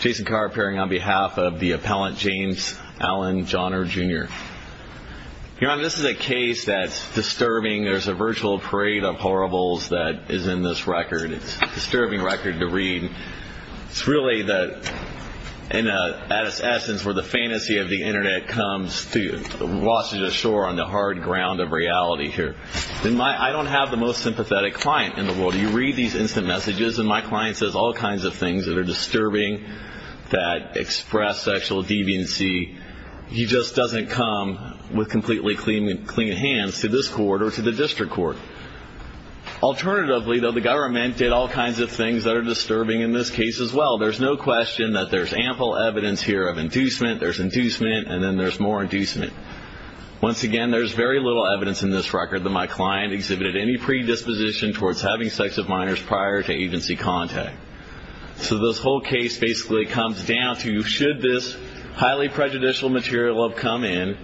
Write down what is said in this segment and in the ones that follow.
Jason Carr appearing on behalf of the appellant James Allen Jahner Jr. Your Honor, this is a case that's disturbing. There's a virtual parade of horribles that is in this record. It's a disturbing record to read. It's really in its essence where the fantasy of the Internet comes to wash ashore on the hard ground of reality here. I don't have the most sympathetic client in the world. You read these instant messages and my client says all kinds of things that are disturbing that express sexual deviancy. He just doesn't come with completely clean hands to this court or to the district court. Alternatively, though, the government did all kinds of things that are disturbing in this case as well. There's no question that there's ample evidence here of inducement. There's inducement and then there's more inducement. Once again, there's very little evidence in this record that my client exhibited any predisposition towards having sex with minors prior to agency contact. So this whole case basically comes down to should this highly prejudicial material have come in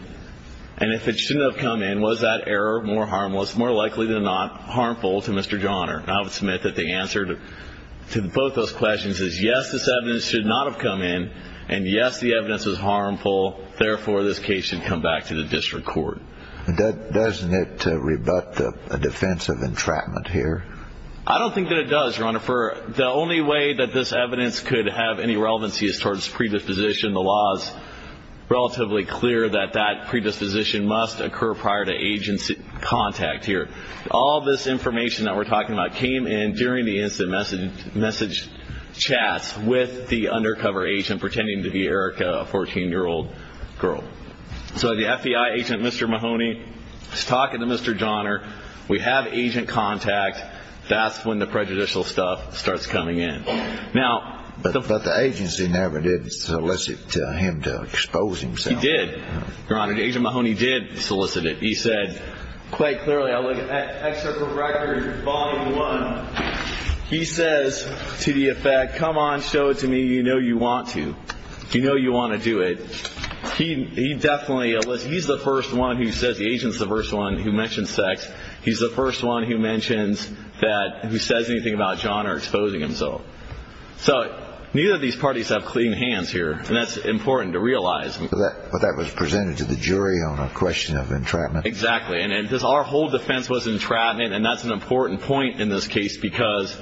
and if it shouldn't have come in, was that error more harmless, more likely than not, harmful to Mr. Jahner? And I would submit that the answer to both those questions is yes, this evidence should not have come in and yes, the evidence is harmful. Therefore, this case should come back to the district court. Doesn't it rebut the defense of entrapment here? I don't think that it does, Your Honor. The only way that this evidence could have any relevancy is towards predisposition. The law is relatively clear that that predisposition must occur prior to agency contact here. All this information that we're talking about came in during the instant message chats with the undercover agent pretending to be Erica, a 14-year-old girl. So the FBI agent, Mr. Mahoney, is talking to Mr. Jahner. We have agent contact. That's when the prejudicial stuff starts coming in. But the agency never did solicit him to expose himself. He did, Your Honor. Agent Mahoney did solicit it. He said quite clearly, I look at excerpt from record, volume one. He says to the effect, come on, show it to me, you know you want to. You know you want to do it. He definitely, he's the first one who says, the agent's the first one who mentions sex. He's the first one who mentions that, who says anything about Jahner exposing himself. So neither of these parties have clean hands here, and that's important to realize. But that was presented to the jury on a question of entrapment. Exactly, and our whole defense was entrapment, and that's an important point in this case because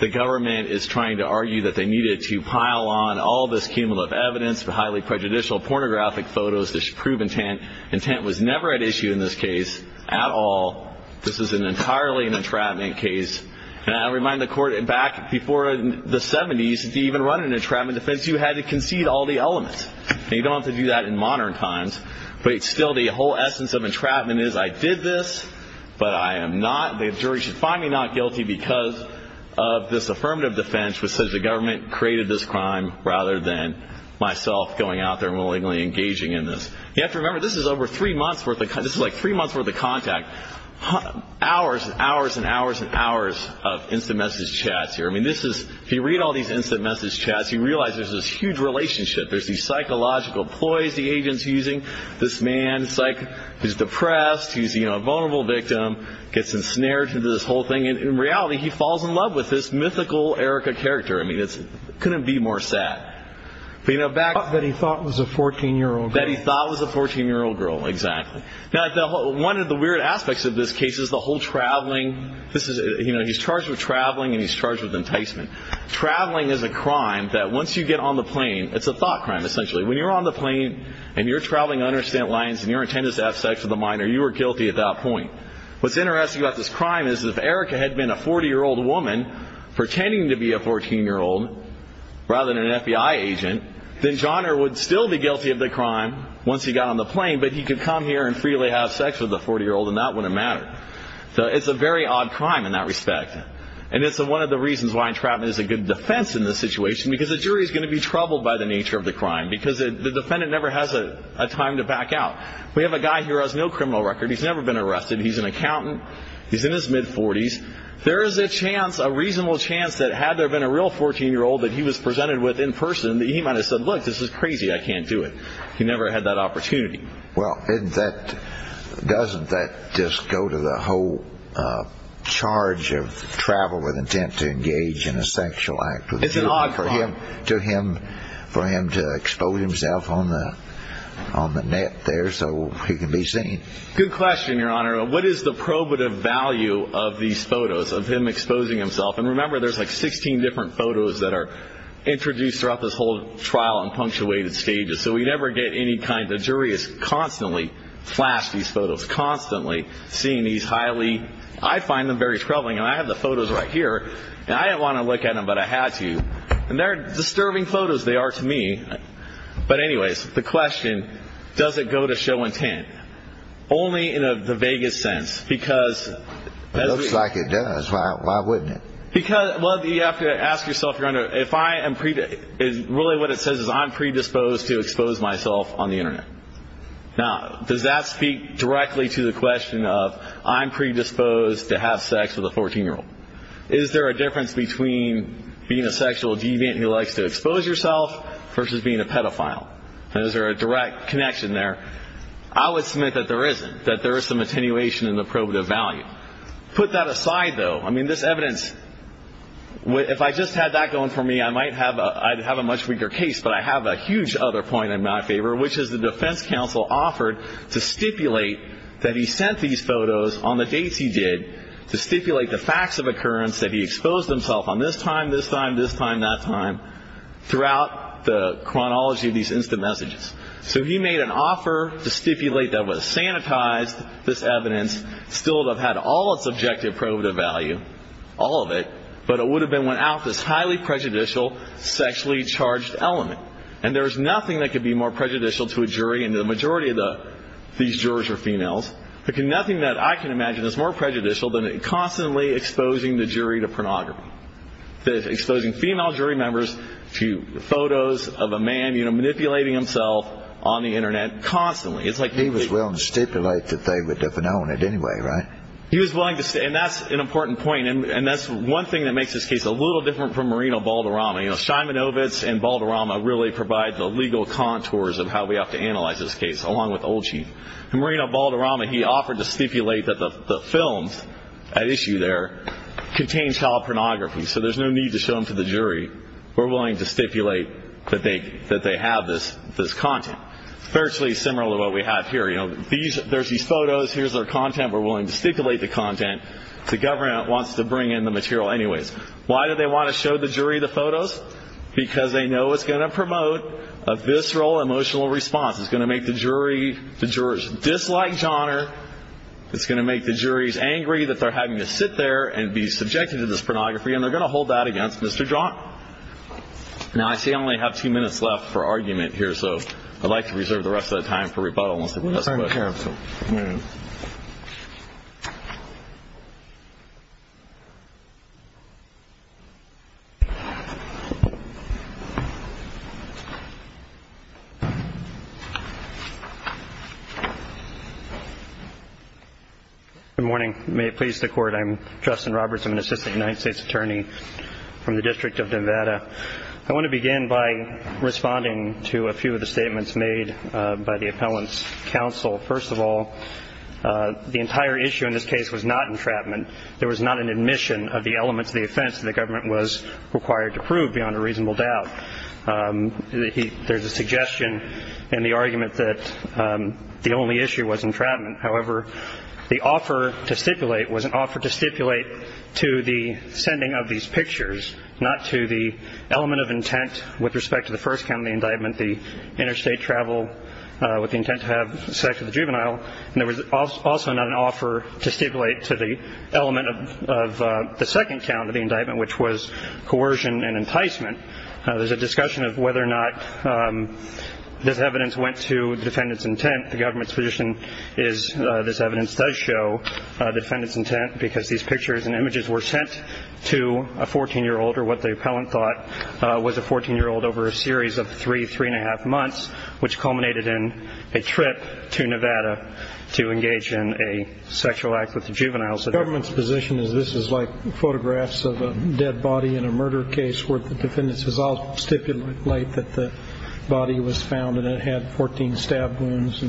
the government is trying to argue that they needed to pile on all this cumulative evidence, the highly prejudicial pornographic photos that should prove intent. Intent was never at issue in this case at all. This is entirely an entrapment case. And I remind the Court, back before the 70s, to even run an entrapment defense, you had to concede all the elements. You don't have to do that in modern times, but still the whole essence of entrapment is I did this, but I am not, the jury should find me not guilty because of this affirmative defense which says the government created this crime rather than myself going out there and willingly engaging in this. You have to remember this is over three months worth of, this is like three months worth of contact. Hours and hours and hours and hours of instant message chats here. I mean this is, if you read all these instant message chats, you realize there's this huge relationship. There's these psychological ploys the agent's using. This man is depressed, he's a vulnerable victim, gets ensnared into this whole thing, and in reality he falls in love with this mythical Erica character. I mean it couldn't be more sad. That he thought was a 14-year-old girl. That he thought was a 14-year-old girl, exactly. Now one of the weird aspects of this case is the whole traveling, he's charged with traveling and he's charged with enticement. Traveling is a crime that once you get on the plane, it's a thought crime essentially. When you're on the plane and you're traveling under stint lines and your intent is to have sex with a minor, you are guilty at that point. What's interesting about this crime is if Erica had been a 40-year-old woman pretending to be a 14-year-old rather than an FBI agent, then John would still be guilty of the crime once he got on the plane, but he could come here and freely have sex with a 40-year-old and that wouldn't matter. So it's a very odd crime in that respect. And it's one of the reasons why entrapment is a good defense in this situation because the jury is going to be troubled by the nature of the crime because the defendant never has a time to back out. We have a guy here who has no criminal record. He's never been arrested. He's an accountant. He's in his mid-40s. There is a chance, a reasonable chance that had there been a real 14-year-old that he was presented with in person that he might have said, look, this is crazy, I can't do it. He never had that opportunity. Well, doesn't that just go to the whole charge of travel with intent to engage in a sexual act? It's an odd crime. For him to expose himself on the net there so he can be seen. Good question, Your Honor. What is the probative value of these photos of him exposing himself? And remember, there's like 16 different photos that are introduced throughout this whole trial in punctuated stages, so we never get any kind. The jury is constantly flashing these photos, constantly seeing these highly. I find them very troubling. I have the photos right here. I didn't want to look at them, but I had to. And they're disturbing photos. They are to me. But anyways, the question, does it go to show intent? Only in the vaguest sense because... Why wouldn't it? Well, you have to ask yourself, Your Honor. Really what it says is I'm predisposed to expose myself on the Internet. Now, does that speak directly to the question of I'm predisposed to have sex with a 14-year-old? Is there a difference between being a sexual deviant who likes to expose yourself versus being a pedophile? Is there a direct connection there? I would submit that there isn't, that there is some attenuation in the probative value. Put that aside, though. I mean, this evidence, if I just had that going for me, I might have a much weaker case. But I have a huge other point in my favor, which is the defense counsel offered to stipulate that he sent these photos on the dates he did to stipulate the facts of occurrence that he exposed himself on this time, this time, this time, that time, throughout the chronology of these instant messages. So he made an offer to stipulate that would have sanitized this evidence, still would have had all its objective probative value, all of it, but it would have been without this highly prejudicial sexually charged element. And there is nothing that could be more prejudicial to a jury, and the majority of these jurors are females, nothing that I can imagine is more prejudicial than constantly exposing the jury to pornography, exposing female jury members to photos of a man manipulating himself on the Internet constantly. He was willing to stipulate that they would have known it anyway, right? He was willing to stipulate, and that's an important point, and that's one thing that makes this case a little different from Marino Balderrama. You know, Szymanowicz and Balderrama really provide the legal contours of how we have to analyze this case, along with Old Chief. And Marino Balderrama, he offered to stipulate that the films at issue there contain child pornography, so there's no need to show them to the jury. We're willing to stipulate that they have this content. Virtually similar to what we have here. You know, there's these photos, here's their content, we're willing to stipulate the content. The government wants to bring in the material anyways. Why do they want to show the jury the photos? Because they know it's going to promote a visceral emotional response. It's going to make the jury dislike Johnner. It's going to make the juries angry that they're having to sit there and be subjected to this pornography, and they're going to hold that against Mr. John. Now, I see I only have two minutes left for argument here, so I'd like to reserve the rest of that time for rebuttal. We're trying to hear him. Good morning. May it please the Court. I'm Justin Roberts. I'm an assistant United States attorney from the District of Nevada. I want to begin by responding to a few of the statements made by the appellant's counsel. First of all, the entire issue in this case was not entrapment. There was not an admission of the elements of the offense that the government was required to prove beyond a reasonable doubt. There's a suggestion in the argument that the only issue was entrapment. However, the offer to stipulate was an offer to stipulate to the sending of these pictures, not to the element of intent with respect to the first count of the indictment, the interstate travel with the intent to have sex with a juvenile. And there was also not an offer to stipulate to the element of the second count of the indictment, which was coercion and enticement. There's a discussion of whether or not this evidence went to the defendant's intent. The government's position is this evidence does show defendant's intent because these pictures and images were sent to a 14-year-old, or what the appellant thought was a 14-year-old over a series of three, three-and-a-half months, which culminated in a trip to Nevada to engage in a sexual act with a juvenile. The government's position is this is like photographs of a dead body in a murder case where the defendants would stipulate that the body was found and it had 14 stab wounds.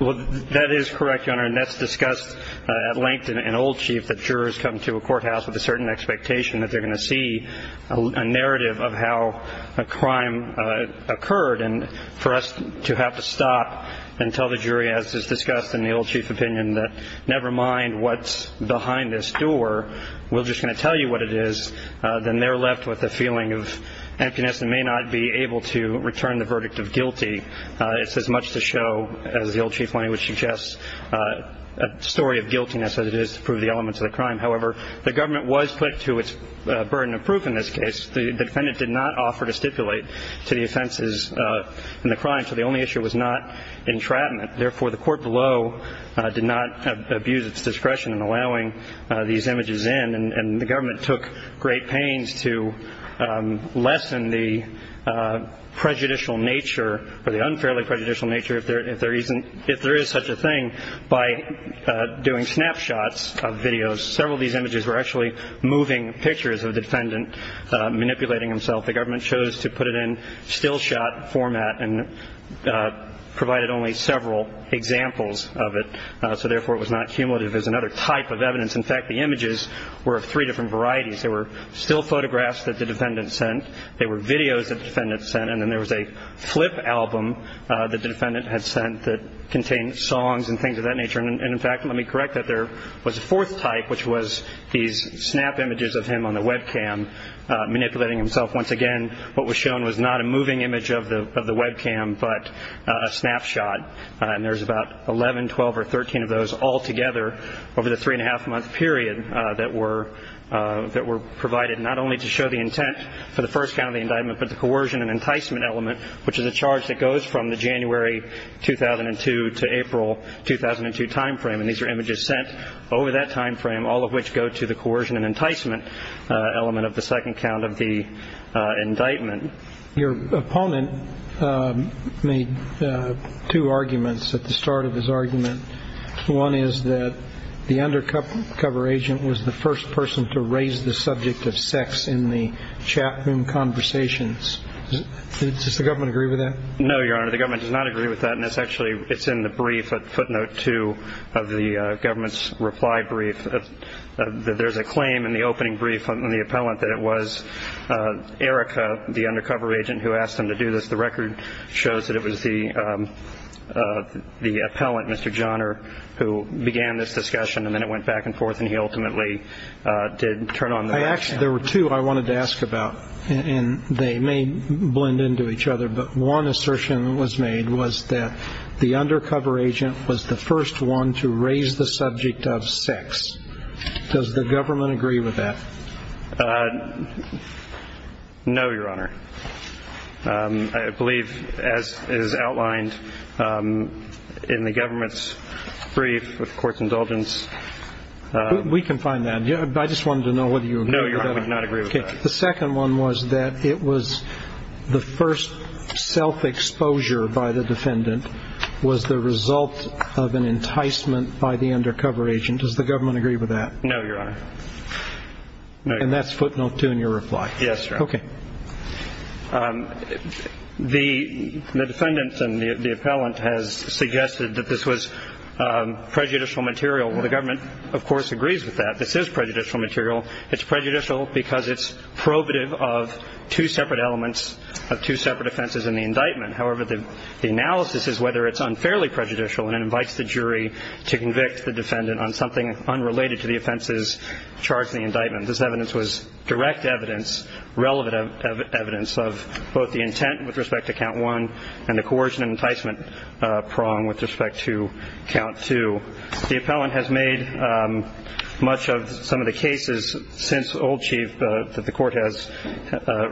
Well, that is correct, Your Honor, and that's discussed at length in an old chief that jurors come to a courthouse with a certain expectation that they're going to see a narrative of how a crime occurred. And for us to have to stop and tell the jury, as is discussed in the old chief's opinion, that never mind what's behind this door, we're just going to tell you what it is, then they're left with a feeling of emptiness and may not be able to return the verdict of guilty. It's as much to show, as the old chief would suggest, a story of guiltiness as it is to prove the elements of the crime. However, the government was put to its burden of proof in this case. The defendant did not offer to stipulate to the offenses in the crime, so the only issue was not entrapment. Therefore, the court below did not abuse its discretion in allowing these images in, and the government took great pains to lessen the prejudicial nature or the unfairly prejudicial nature, if there is such a thing, by doing snapshots of videos. Several of these images were actually moving pictures of the defendant manipulating himself. The government chose to put it in still shot format and provided only several examples of it, so therefore it was not cumulative as another type of evidence. In fact, the images were of three different varieties. There were still photographs that the defendant sent, there were videos that the defendant sent, and then there was a flip album that the defendant had sent that contained songs and things of that nature. And, in fact, let me correct that there was a fourth type, which was these snap images of him on the webcam manipulating himself. Once again, what was shown was not a moving image of the webcam but a snapshot, and there's about 11, 12, or 13 of those all together over the three-and-a-half-month period that were provided not only to show the intent for the first count of the indictment but the coercion and enticement element, which is a charge that goes from the January 2002 to April 2002 time frame, and these are images sent over that time frame, all of which go to the coercion and enticement element of the second count of the indictment. Your opponent made two arguments at the start of his argument. One is that the undercover agent was the first person to raise the subject of sex in the chat room conversations. Does the government agree with that? No, Your Honor, the government does not agree with that, and it's actually in the brief at footnote two of the government's reply brief. There's a claim in the opening brief on the appellant that it was Erica, the undercover agent, who asked him to do this. The record shows that it was the appellant, Mr. Johner, who began this discussion, and then it went back and forth, and he ultimately did turn on the webcam. There were two I wanted to ask about, and they may blend into each other, but one assertion was made was that the undercover agent was the first one to raise the subject of sex. Does the government agree with that? No, Your Honor. I believe, as is outlined in the government's brief with court's indulgence. We can find that. I just wanted to know whether you agree with that. No, Your Honor, we do not agree with that. Okay. The second one was that it was the first self-exposure by the defendant was the result of an enticement by the undercover agent. Does the government agree with that? No, Your Honor. And that's footnote two in your reply? Yes, Your Honor. Okay. The defendant and the appellant has suggested that this was prejudicial material. Well, the government, of course, agrees with that. This is prejudicial material. It's prejudicial because it's probative of two separate elements of two separate offenses in the indictment. However, the analysis is whether it's unfairly prejudicial, and it invites the jury to convict the defendant on something unrelated to the offenses charged in the indictment. This evidence was direct evidence, relevant evidence of both the intent with respect to count one and the coercion and enticement prong with respect to count two. The appellant has made much of some of the cases since Old Chief that the court has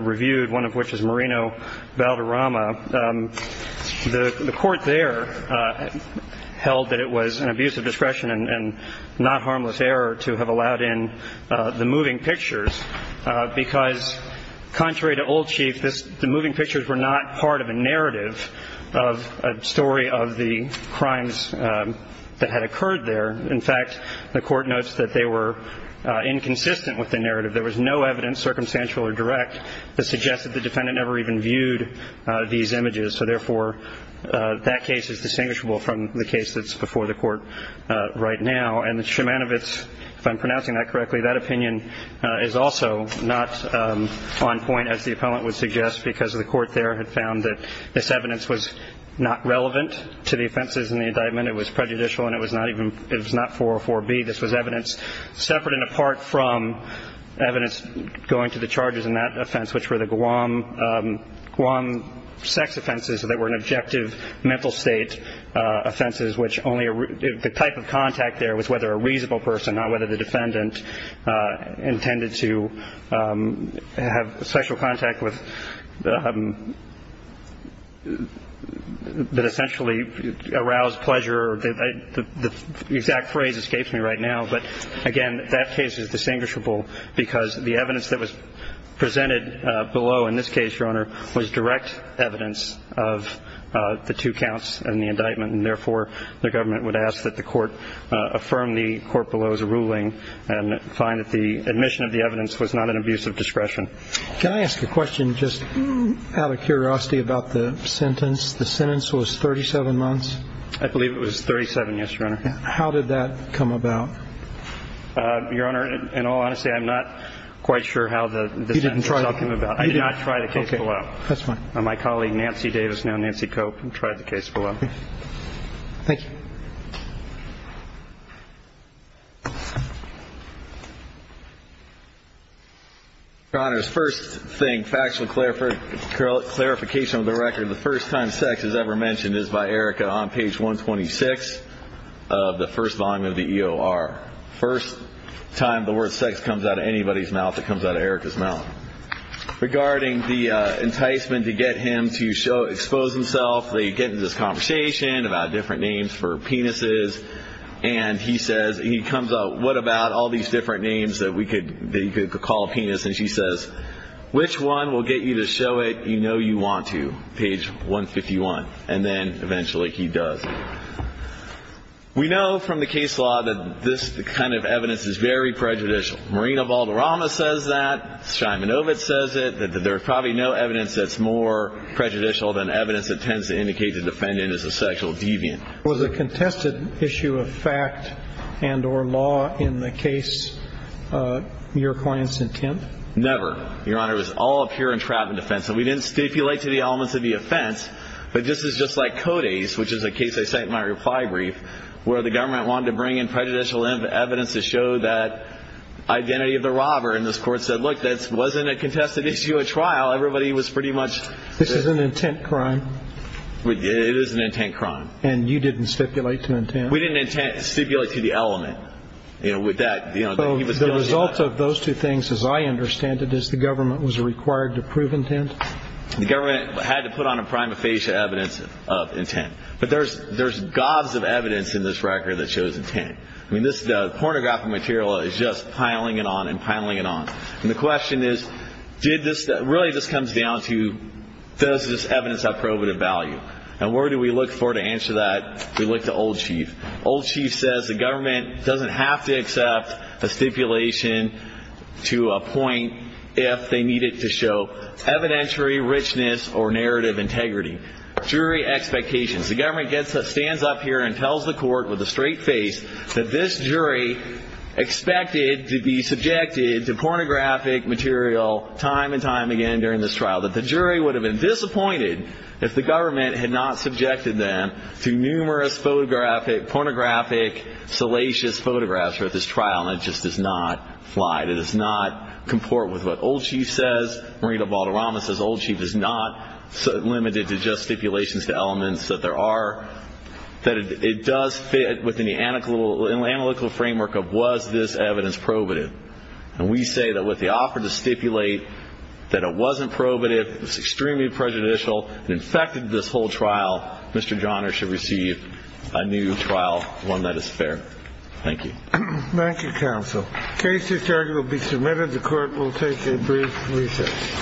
reviewed, one of which is Marino Valderrama. The court there held that it was an abuse of discretion and not harmless error to have allowed in the moving pictures because contrary to Old Chief, the moving pictures were not part of a narrative of a story of the crimes that had occurred there. In fact, the court notes that they were inconsistent with the narrative. There was no evidence, circumstantial or direct, that suggested the defendant never even viewed these images. So, therefore, that case is distinguishable from the case that's before the court right now. And the Szymanowicz, if I'm pronouncing that correctly, that opinion is also not on point, as the appellant would suggest, because the court there had found that this evidence was not relevant to the offenses in the indictment. It was prejudicial and it was not even, it was not 404B. This was evidence separate and apart from evidence going to the charges in that offense, which were the Guam sex offenses that were an objective mental state offenses, which only the type of contact there was whether a reasonable person, not whether the defendant intended to have sexual contact with, that essentially aroused pleasure. The exact phrase escapes me right now. But, again, that case is distinguishable because the evidence that was presented below in this case, Your Honor, was direct evidence of the two counts in the indictment and, therefore, the government would ask that the court affirm the court below's ruling and find that the admission of the evidence was not an abuse of discretion. Can I ask a question just out of curiosity about the sentence? The sentence was 37 months? I believe it was 37, yes, Your Honor. How did that come about? Your Honor, in all honesty, I'm not quite sure how the sentence came about. I did not try the case below. My colleague Nancy Davis, now Nancy Cope, tried the case below. Thank you. Your Honor, first thing, factual clarification of the record, the first time sex is ever mentioned is by Erica on page 126 of the first volume of the EOR. First time the word sex comes out of anybody's mouth, it comes out of Erica's mouth. Regarding the enticement to get him to expose himself, they get into this conversation about different names for penises, and he comes out, what about all these different names that you could call a penis? And she says, which one will get you to show it? You know you want to, page 151. And then, eventually, he does. We know from the case law that this kind of evidence is very prejudicial. Marina Valderrama says that. Simon Ovitz says it, that there's probably no evidence that's more prejudicial than evidence that tends to indicate the defendant is a sexual deviant. Was a contested issue of fact and or law in the case your client's intent? Never. Your Honor, it was all a pure entrapment offense, and we didn't stipulate to the elements of the offense, but this is just like CODES, which is a case I cite in my reply brief, where the government wanted to bring in prejudicial evidence to show that identity of the robber. And this court said, look, that wasn't a contested issue at trial. Everybody was pretty much. This is an intent crime. It is an intent crime. And you didn't stipulate to intent? We didn't stipulate to the element. So the result of those two things, as I understand it, is the government was required to prove intent? The government had to put on a prima facie evidence of intent. But there's gobs of evidence in this record that shows intent. I mean, this pornographic material is just piling it on and piling it on. And the question is, really this comes down to does this evidence have probative value? And where do we look for to answer that? We look to Old Chief. Old Chief says the government doesn't have to accept a stipulation to a point if they need it to show evidentiary richness or narrative integrity. Jury expectations. The government stands up here and tells the court with a straight face that this jury expected to be subjected to pornographic material time and time again during this trial, that the jury would have been disappointed if the government had not subjected them to numerous pornographic salacious photographs throughout this trial. And it just does not fly. It does not comport with what Old Chief says. Marina Valderrama says Old Chief is not limited to just stipulations to elements that there are. That it does fit within the analytical framework of was this evidence probative? And we say that with the offer to stipulate that it wasn't probative, it was extremely prejudicial, and infected this whole trial, Mr. Johners should receive a new trial, one that is fair. Thank you. Thank you, counsel. Case history will be submitted. And the court will take a brief recess.